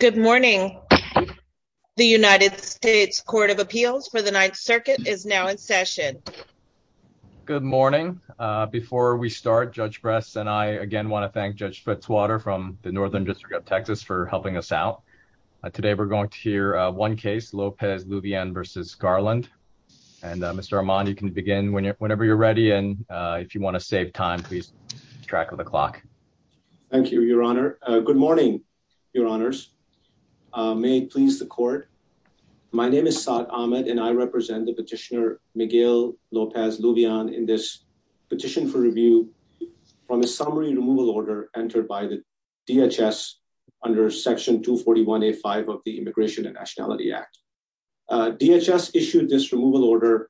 Good morning the United States Court of Appeals for the Ninth Circuit is now in session. Good morning before we start Judge Bress and I again want to thank Judge Fitzwater from the Northern District of Texas for helping us out. Today we're going to hear one case Lopez Luvian v. Garland and Mr. Armand you can begin whenever you're ready and if you want to save time please track of the clock. Thank you your honor. Good morning your honors. May it please the court my name is Saad Ahmed and I represent the petitioner Miguel Lopez Luvian in this petition for review from a summary removal order entered by the DHS under section 241a5 of the Immigration and Nationality Act. DHS issued this removal order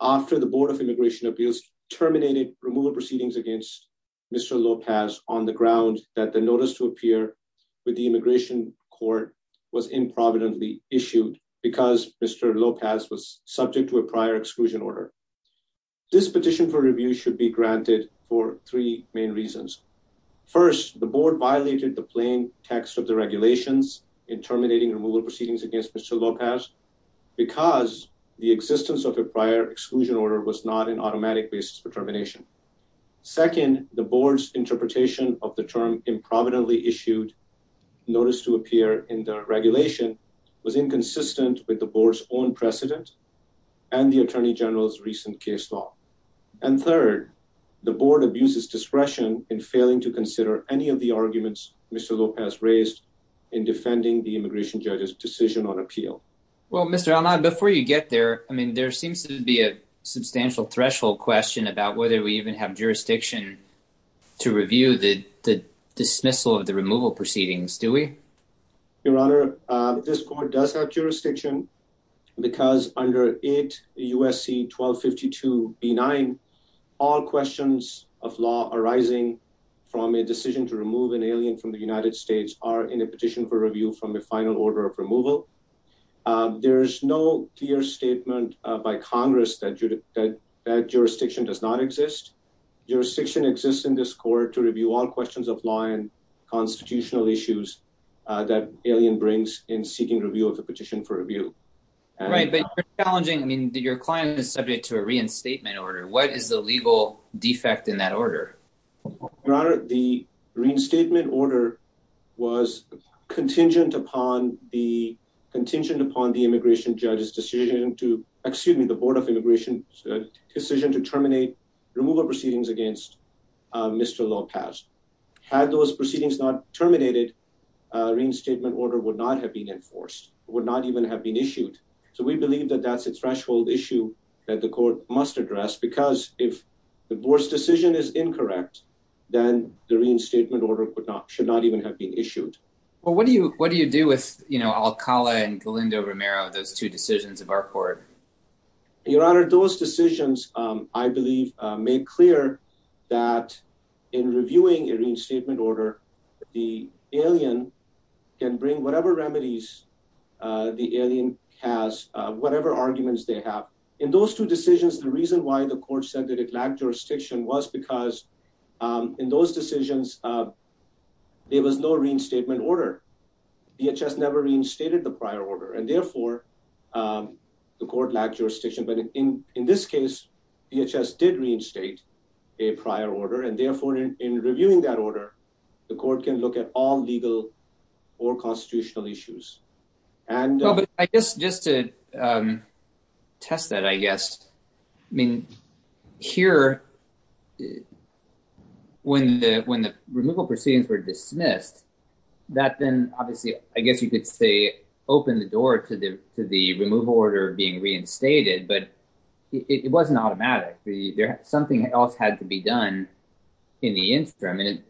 after the Board of Immigration Appeals terminated removal proceedings against Mr. Lopez on the ground that the notice to appear with the Immigration Court was improvidently issued because Mr. Lopez was subject to a prior exclusion order. This petition for review should be granted for three main reasons. First the Board violated the plain text of the regulations in terminating removal proceedings against Mr. in automatic basis for termination. Second the Board's interpretation of the term improvidently issued notice to appear in the regulation was inconsistent with the Board's own precedent and the Attorney General's recent case law. And third the Board abuses discretion in failing to consider any of the arguments Mr. Lopez raised in defending the immigration judge's decision on threshold question about whether we even have jurisdiction to review the dismissal of the removal proceedings do we? Your Honor this court does have jurisdiction because under 8 USC 1252 B9 all questions of law arising from a decision to remove an alien from the United States are in a petition for review from the final order of removal. There is no clear statement by Congress that jurisdiction does not exist. Jurisdiction exists in this court to review all questions of law and constitutional issues that alien brings in seeking review of the petition for review. Right but you're challenging I mean your client is subject to a reinstatement order. What is the legal defect in that order? Your Honor the reinstatement order was contingent upon the immigration judge's decision to excuse me the Board of Immigration's decision to terminate removal proceedings against Mr. Lopez. Had those proceedings not terminated a reinstatement order would not have been enforced would not even have been issued. So we believe that that's a threshold issue that the court must address because if the Board's decision is incorrect then the reinstatement order could not should not even have been issued. Well what do you what do you do with you know Akala and Galindo Romero those two decisions of our court? Your Honor those decisions I believe made clear that in reviewing a reinstatement order the alien can bring whatever remedies the alien has whatever arguments they have. In those two decisions the reason why the court said that it lacked jurisdiction was because in those decisions there was no reinstatement order. DHS never reinstated the prior order and therefore the court lacked jurisdiction but in in this case DHS did reinstate a prior order and therefore in reviewing that order the court can look at all legal or constitutional issues. And I guess just to test that I guess I mean here it when the when the removal proceedings were dismissed that then obviously I guess you could say open the door to the to the removal order being reinstated but it wasn't automatic there something else had to be done in the interim and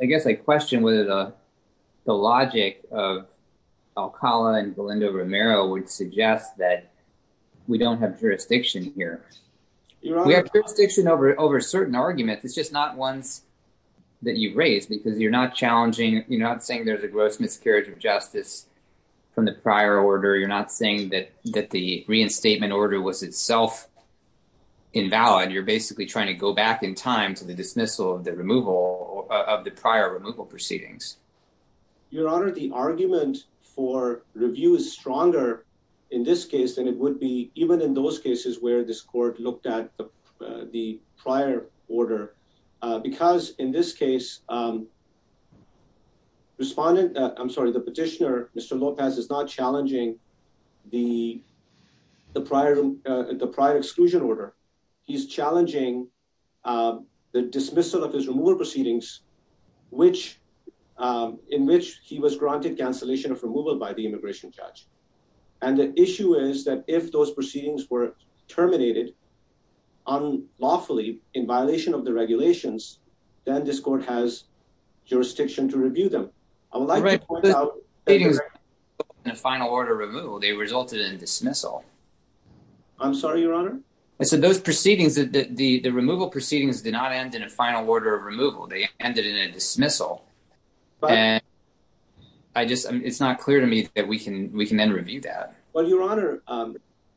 I guess I question whether the the logic of Akala and Galindo Romero would suggest that we don't have jurisdiction here. We have jurisdiction over certain arguments it's just not ones that you've raised because you're not challenging you're not saying there's a gross miscarriage of justice from the prior order you're not saying that that the reinstatement order was itself invalid you're basically trying to go back in time to the dismissal of the removal of the prior removal proceedings. Your Honor the argument for review is stronger in this case than it would be even in those cases where this court looked at the prior order because in this case respondent I'm sorry the petitioner Mr. Lopez is not challenging the the prior the prior exclusion order he's challenging the dismissal of his removal proceedings which in which he was granted cancellation of removal by the immigration judge and the issue is that if those proceedings were terminated unlawfully in violation of the regulations then this court has jurisdiction to review them I would like to point out in a final order removal they resulted in dismissal I'm sorry your honor I said those proceedings that the the removal proceedings did not end in a final order of removal they it's not clear to me that we can we can then review that well your honor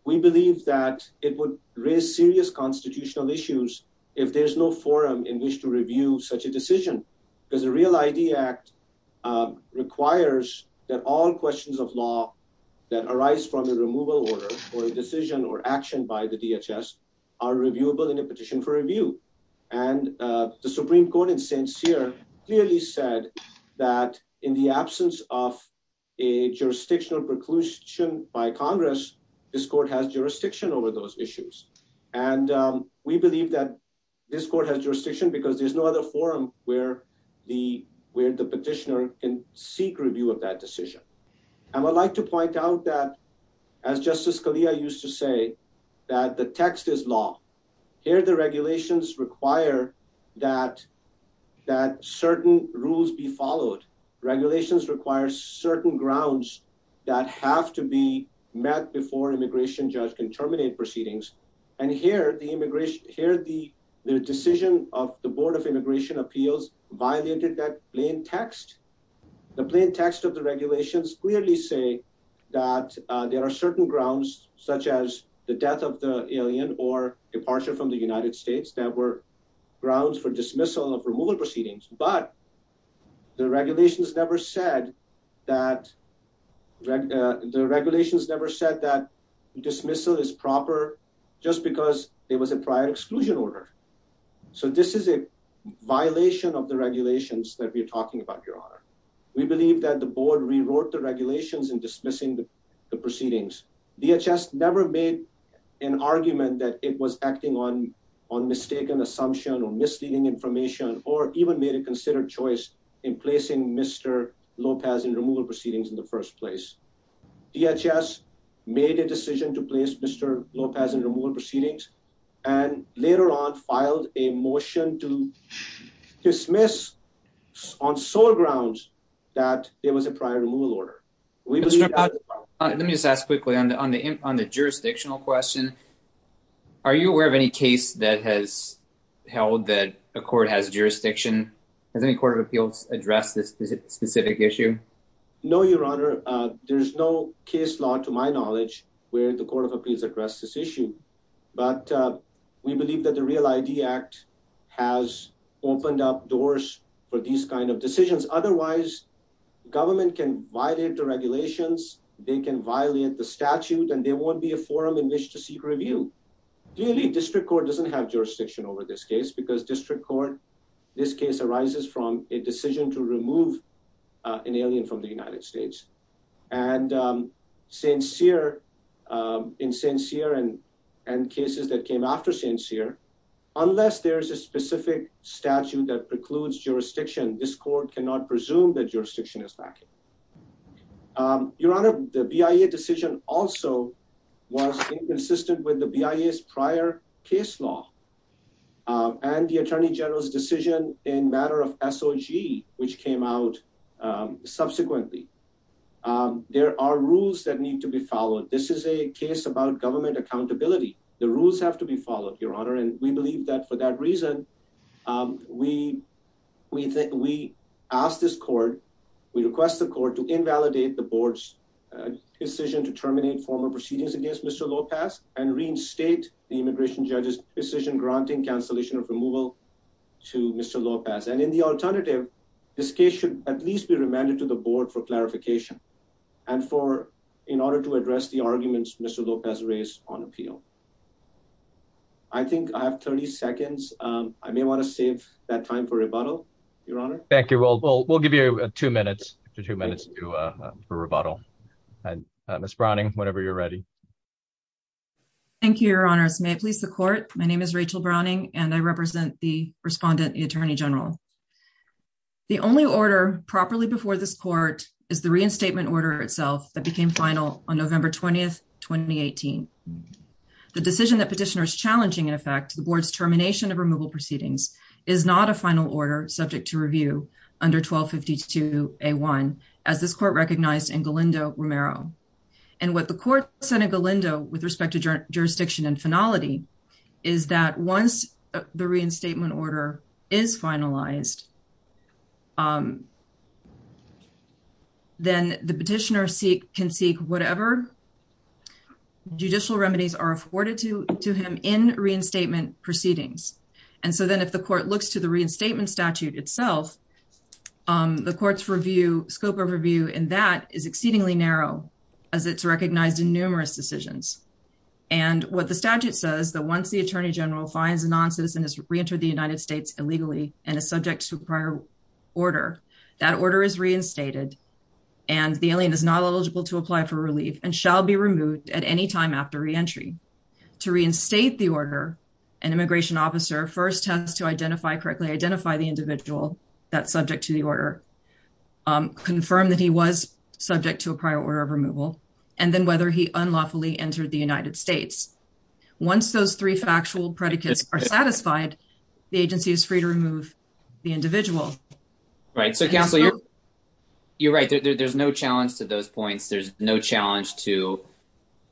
we believe that it would raise serious constitutional issues if there's no forum in which to review such a decision because the real idea act requires that all questions of law that arise from a removal order or a decision or action by the DHS are reviewable in a petition for review and the absence of a jurisdictional preclusion by congress this court has jurisdiction over those issues and we believe that this court has jurisdiction because there's no other forum where the where the petitioner can seek review of that decision and I'd like to point out that as Justice Scalia used to say that the text is law here the regulations require that that certain rules be followed regulations require certain grounds that have to be met before immigration judge can terminate proceedings and here the immigration here the the decision of the board of immigration appeals violated that plain text the plain text of the regulations clearly say that there are certain grounds such as the death of the alien or departure from the United States that were grounds for dismissal of removal proceedings but the regulations never said that the regulations never said that dismissal is proper just because there was a prior exclusion order so this is a violation of the regulations that we're talking about your honor we believe that the board rewrote the regulations in dismissing the proceedings DHS never made an argument that it was acting on on mistaken assumption or misleading information or even made a considered choice in placing Mr. Lopez in removal proceedings in the first place DHS made a decision to place Mr. Lopez in removal proceedings and later on filed a motion to dismiss on sole grounds that there was a prior removal order let me just ask quickly on the on the question are you aware of any case that has held that a court has jurisdiction has any court of appeals address this specific issue no your honor there's no case law to my knowledge where the court of appeals addressed this issue but we believe that the real id act has opened up doors for these kind of decisions otherwise government can violate the regulations they can forum in which to seek review clearly district court doesn't have jurisdiction over this case because district court this case arises from a decision to remove an alien from the united states and um sincere um in sincere and and cases that came after sincere unless there is a specific statute that precludes jurisdiction this court cannot presume that jurisdiction is lacking um your honor the BIA decision also was inconsistent with the BIA's prior case law and the attorney general's decision in matter of SOG which came out subsequently there are rules that need to be followed this is a case about government accountability the rules have to be followed your honor and we believe that for that reason um we we think we ask this court we request the court to invalidate the board's decision to terminate former proceedings against Mr. Lopez and reinstate the immigration judge's decision granting cancellation of removal to Mr. Lopez and in the alternative this case should at least be remanded to the board for clarification and for in order to address the arguments Mr. Lopez raised on appeal i think i have 30 seconds um i may want to save that time for rebuttal your honor thank you we'll we'll give you two minutes two minutes to uh for rebuttal and miss browning whenever you're ready thank you your honors may i please the court my name is rachel browning and i represent the respondent the attorney general the only order properly before this is the reinstatement order itself that became final on november 20th 2018 the decision that petitioner is challenging in effect the board's termination of removal proceedings is not a final order subject to review under 1252 a1 as this court recognized in galindo romero and what the court said in galindo with respect to jurisdiction and finality is that once the reinstatement order is finalized um then the petitioner seek can seek whatever judicial remedies are afforded to to him in reinstatement proceedings and so then if the court looks to the reinstatement statute itself um the court's review scope of review in that is exceedingly narrow as it's recognized in numerous decisions and what the statute says that once the attorney general finds a non-citizen has illegally and is subject to prior order that order is reinstated and the alien is not eligible to apply for relief and shall be removed at any time after re-entry to reinstate the order an immigration officer first has to identify correctly identify the individual that's subject to the order um confirm that he was subject to a prior order of removal and then whether he unlawfully entered the united states once those three factual predicates are satisfied the agency is free to remove the individual right so counsel you're right there's no challenge to those points there's no challenge to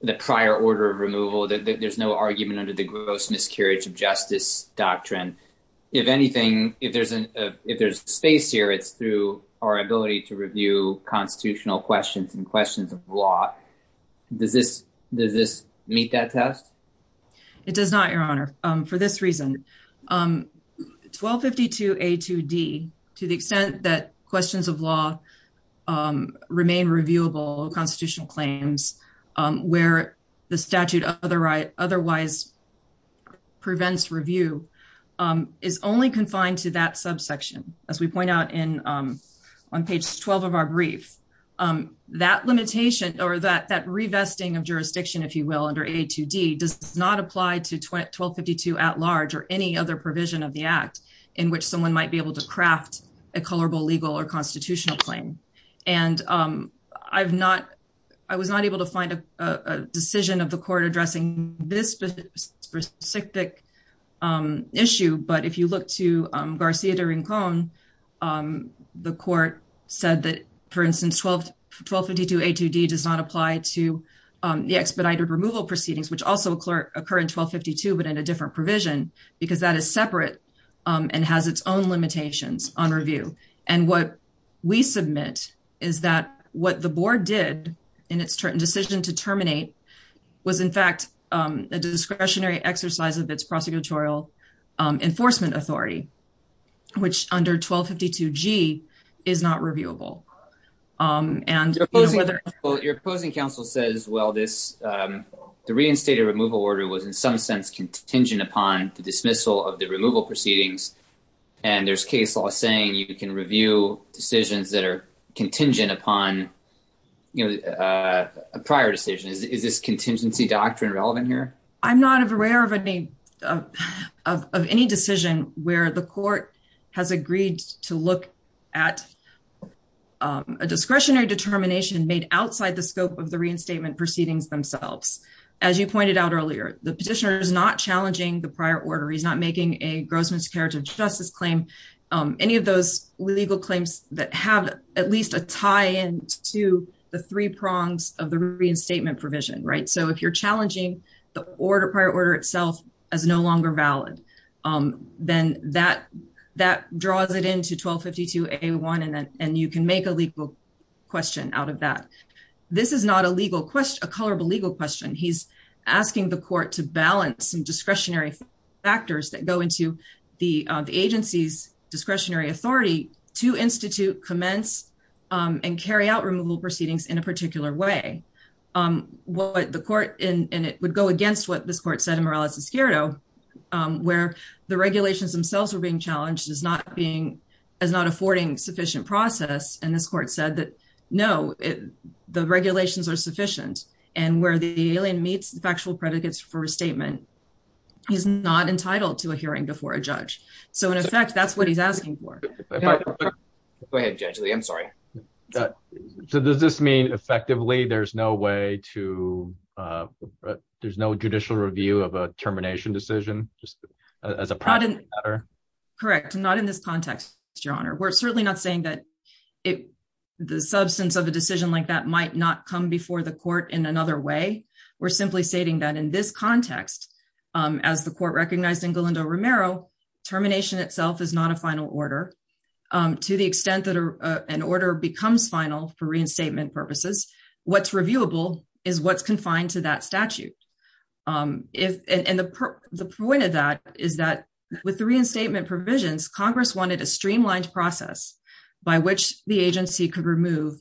the prior order of removal there's no argument under the gross miscarriage of justice doctrine if anything if there's an if there's space here it's through our ability to review constitutional questions and questions of law does this does this meet that test it does not your honor um for this reason um 1252 a2d to the extent that questions of law um remain reviewable constitutional claims um where the statute otherwise otherwise prevents review um is only confined to that subsection as we point out in um on page 12 of our brief um that limitation or that that revesting of jurisdiction if you will under a2d does not apply to 1252 at large or any other provision of the act in which someone might be able to craft a colorable legal or constitutional claim and um i've not i was not able to find a decision of the court addressing this specific um issue but if you look to um garcia during cone um the court said that for instance 12 1252 a2d does not apply to um the expedited removal proceedings which also occur occur in 1252 but in a different provision because that is separate and has its own limitations on review and what we submit is that what the board did in its decision to terminate was in fact um a discretionary exercise of its prosecutorial enforcement authority which under 1252 g is not reviewable um and your opposing counsel says well this um the reinstated removal order was in some sense contingent upon the dismissal of the removal proceedings and there's case law saying you can review decisions that are contingent upon you know a prior decision is this contingency doctrine relevant here i'm not aware of any of any decision where the court has agreed to look at um a discretionary determination made outside the scope of the reinstatement proceedings themselves as you pointed out earlier the petitioner is not challenging the prior order he's not making a gross miscarriage of justice claim any of those legal claims that have at least a tie-in to the three prongs of the reinstatement provision right so if you're challenging the order prior order itself as no longer valid then that that draws it into 1252 a1 and then and you can make a legal question out of that this is not a legal question a colorable legal question he's asking the court to balance some discretionary authority to institute commence um and carry out removal proceedings in a particular way um what the court in and it would go against what this court said in morale as a skirto where the regulations themselves were being challenged as not being as not affording sufficient process and this court said that no it the regulations are sufficient and where the alien meets the factual predicates for a statement he's not entitled to a hearing before a judge so in effect that's what he's asking for go ahead gently i'm sorry so does this mean effectively there's no way to uh there's no judicial review of a termination decision just as a product correct not in this context your honor we're certainly not saying that it the substance of a decision like that might not come before the court in another way we're simply stating that in this context um as the court recognized in galindo romero termination itself is not a final order um to the extent that an order becomes final for reinstatement purposes what's reviewable is what's confined to that statute um if and the the point of that is that with the reinstatement provisions congress wanted a streamlined process by which the agency could remove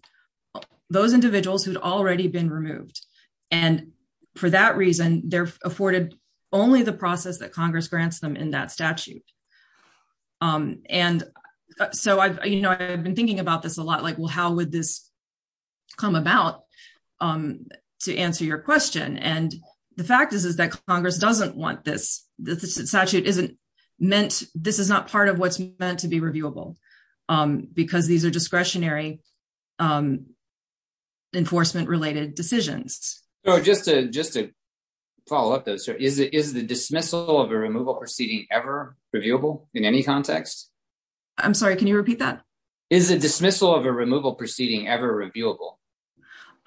those individuals who'd already been removed and for that reason they're afforded only the process that congress grants them in that statute um and so i've you know i've been thinking about this a lot like well how would this come about um to answer your question and the fact is is that congress doesn't want this this statute isn't meant this is not part of what's meant to be reviewable um because these are discretionary um enforcement related decisions so just to just to follow up those so is it is the dismissal of a removal proceeding ever reviewable in any context i'm sorry can you repeat that is a dismissal of a removal proceeding ever reviewable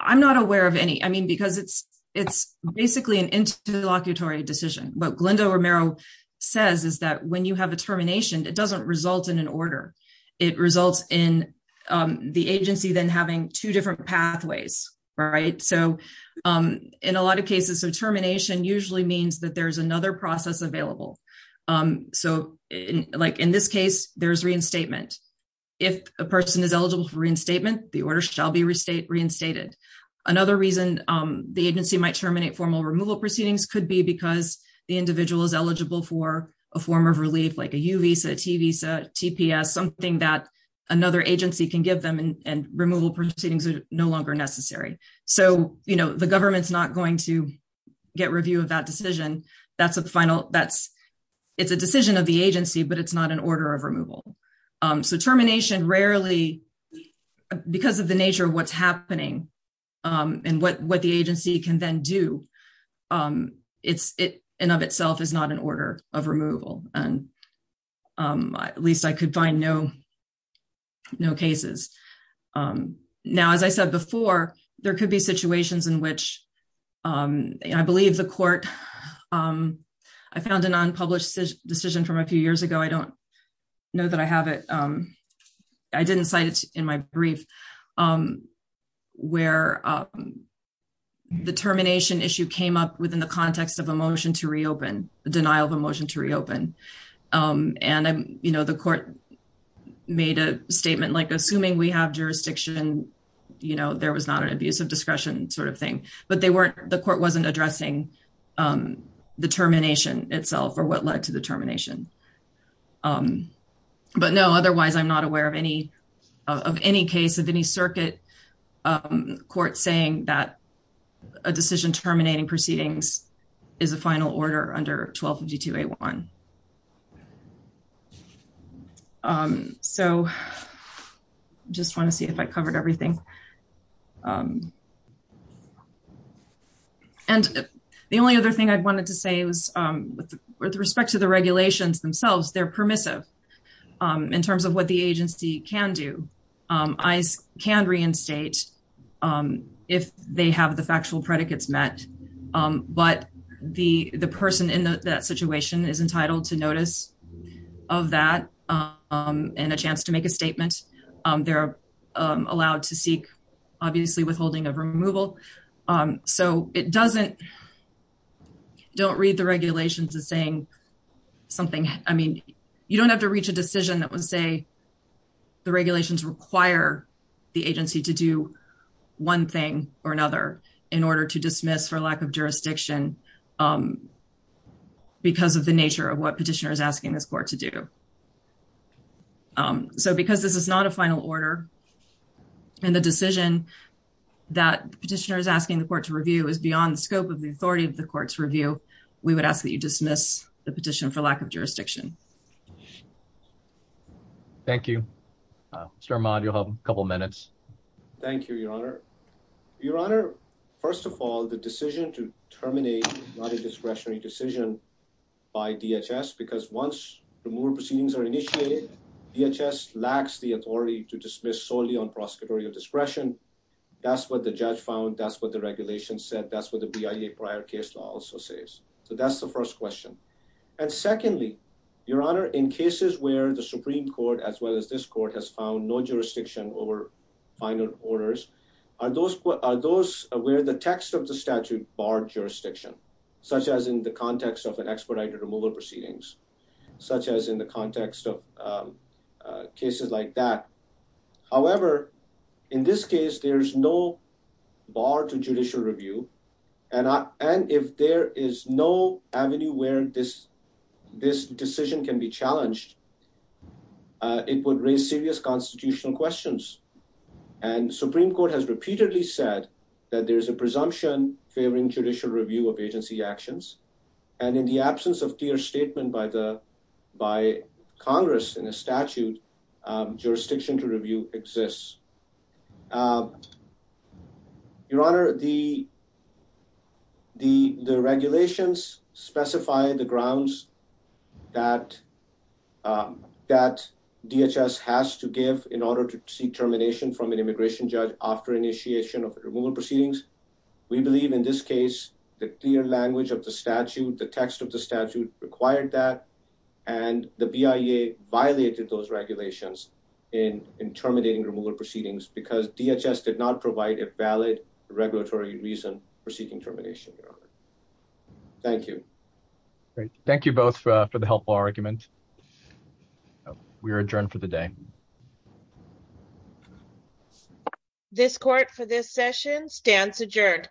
i'm not aware of any i mean because it's it's basically an interlocutory decision but glenda romero says is that when you have a termination it doesn't result in an order it results in um the agency then having two different pathways right so um in a lot of cases so termination usually means that there's another process available um so in like in this case there's reinstatement if a person is eligible for reinstatement the order shall be restate reinstated another reason um the agency might terminate formal removal proceedings could be because the individual is eligible for a form of relief like a u visa t visa tps something that another agency can give them and removal proceedings are no longer necessary so you know the government's not going to get review of that decision that's a final that's it's a decision of the agency but it's not an order of removal um so termination rarely because of the nature of what's um and what what the agency can then do um it's it in of itself is not an order of removal and um at least i could find no no cases um now as i said before there could be situations in which um i believe the court um i found an unpublished decision from a few years ago i don't know that i have it um i didn't cite it in my brief um where um the termination issue came up within the context of a motion to reopen the denial of a motion to reopen um and i'm you know the court made a statement like assuming we have jurisdiction you know there was not an abuse of discretion sort of thing but they weren't the court wasn't addressing um the termination itself or what led to the termination um but no otherwise i'm not aware of any of any case of any circuit um court saying that a decision terminating proceedings is a final order under 1252a1 um so just want to see if i covered everything um and the only other thing i wanted to say was um with respect to the regulations themselves they're permissive um in terms of what the agency can do um i can reinstate um if they have the factual predicates met um but the the person in that situation is entitled to notice of that um and a chance to make a statement um they're allowed to seek obviously withholding of removal um so it doesn't don't read the regulations as saying something i mean you don't have to reach a decision that would say the regulations require the agency to do one thing or another in order to dismiss for lack of jurisdiction um because of the nature of what petitioner is asking this court to do um so because this is not a final order and the decision that petitioner is asking the court to review is beyond the scope of the authority of the court's review we would ask that you dismiss the petition for lack of jurisdiction thank you uh mr armand you'll have a couple minutes thank you your honor your honor first of all the decision to terminate not a discretionary decision by dhs because once removal proceedings are initiated dhs lacks the authority to dismiss solely on prosecutorial discretion that's what the judge found that's what the regulation said that's what the bia prior case law also says so that's the first question and secondly your honor in cases where the supreme court as well as this court has found no jurisdiction over final orders are those are those where the text of the statute bar jurisdiction such as in the context of an expedited removal proceedings such as in the context of cases like that however in this case there's no bar to judicial review and i and if there is no avenue where this this decision can be challenged it would raise serious constitutional questions and supreme court has repeatedly said that there's a presumption favoring judicial review of agency actions and in the absence of clear statement by the by congress in a statute jurisdiction to review exists your honor the the the regulations specify the grounds that that dhs has to give in order to seek termination from an immigration judge after initiation of removal proceedings we believe in this case the clear language of the statute the text of the statute required that and the bia violated those regulations in in terminating removal proceedings because dhs did not provide a valid regulatory reason for seeking termination your honor thank you great thank you both for the helpful argument we are adjourned for the day this court for this session stands adjourned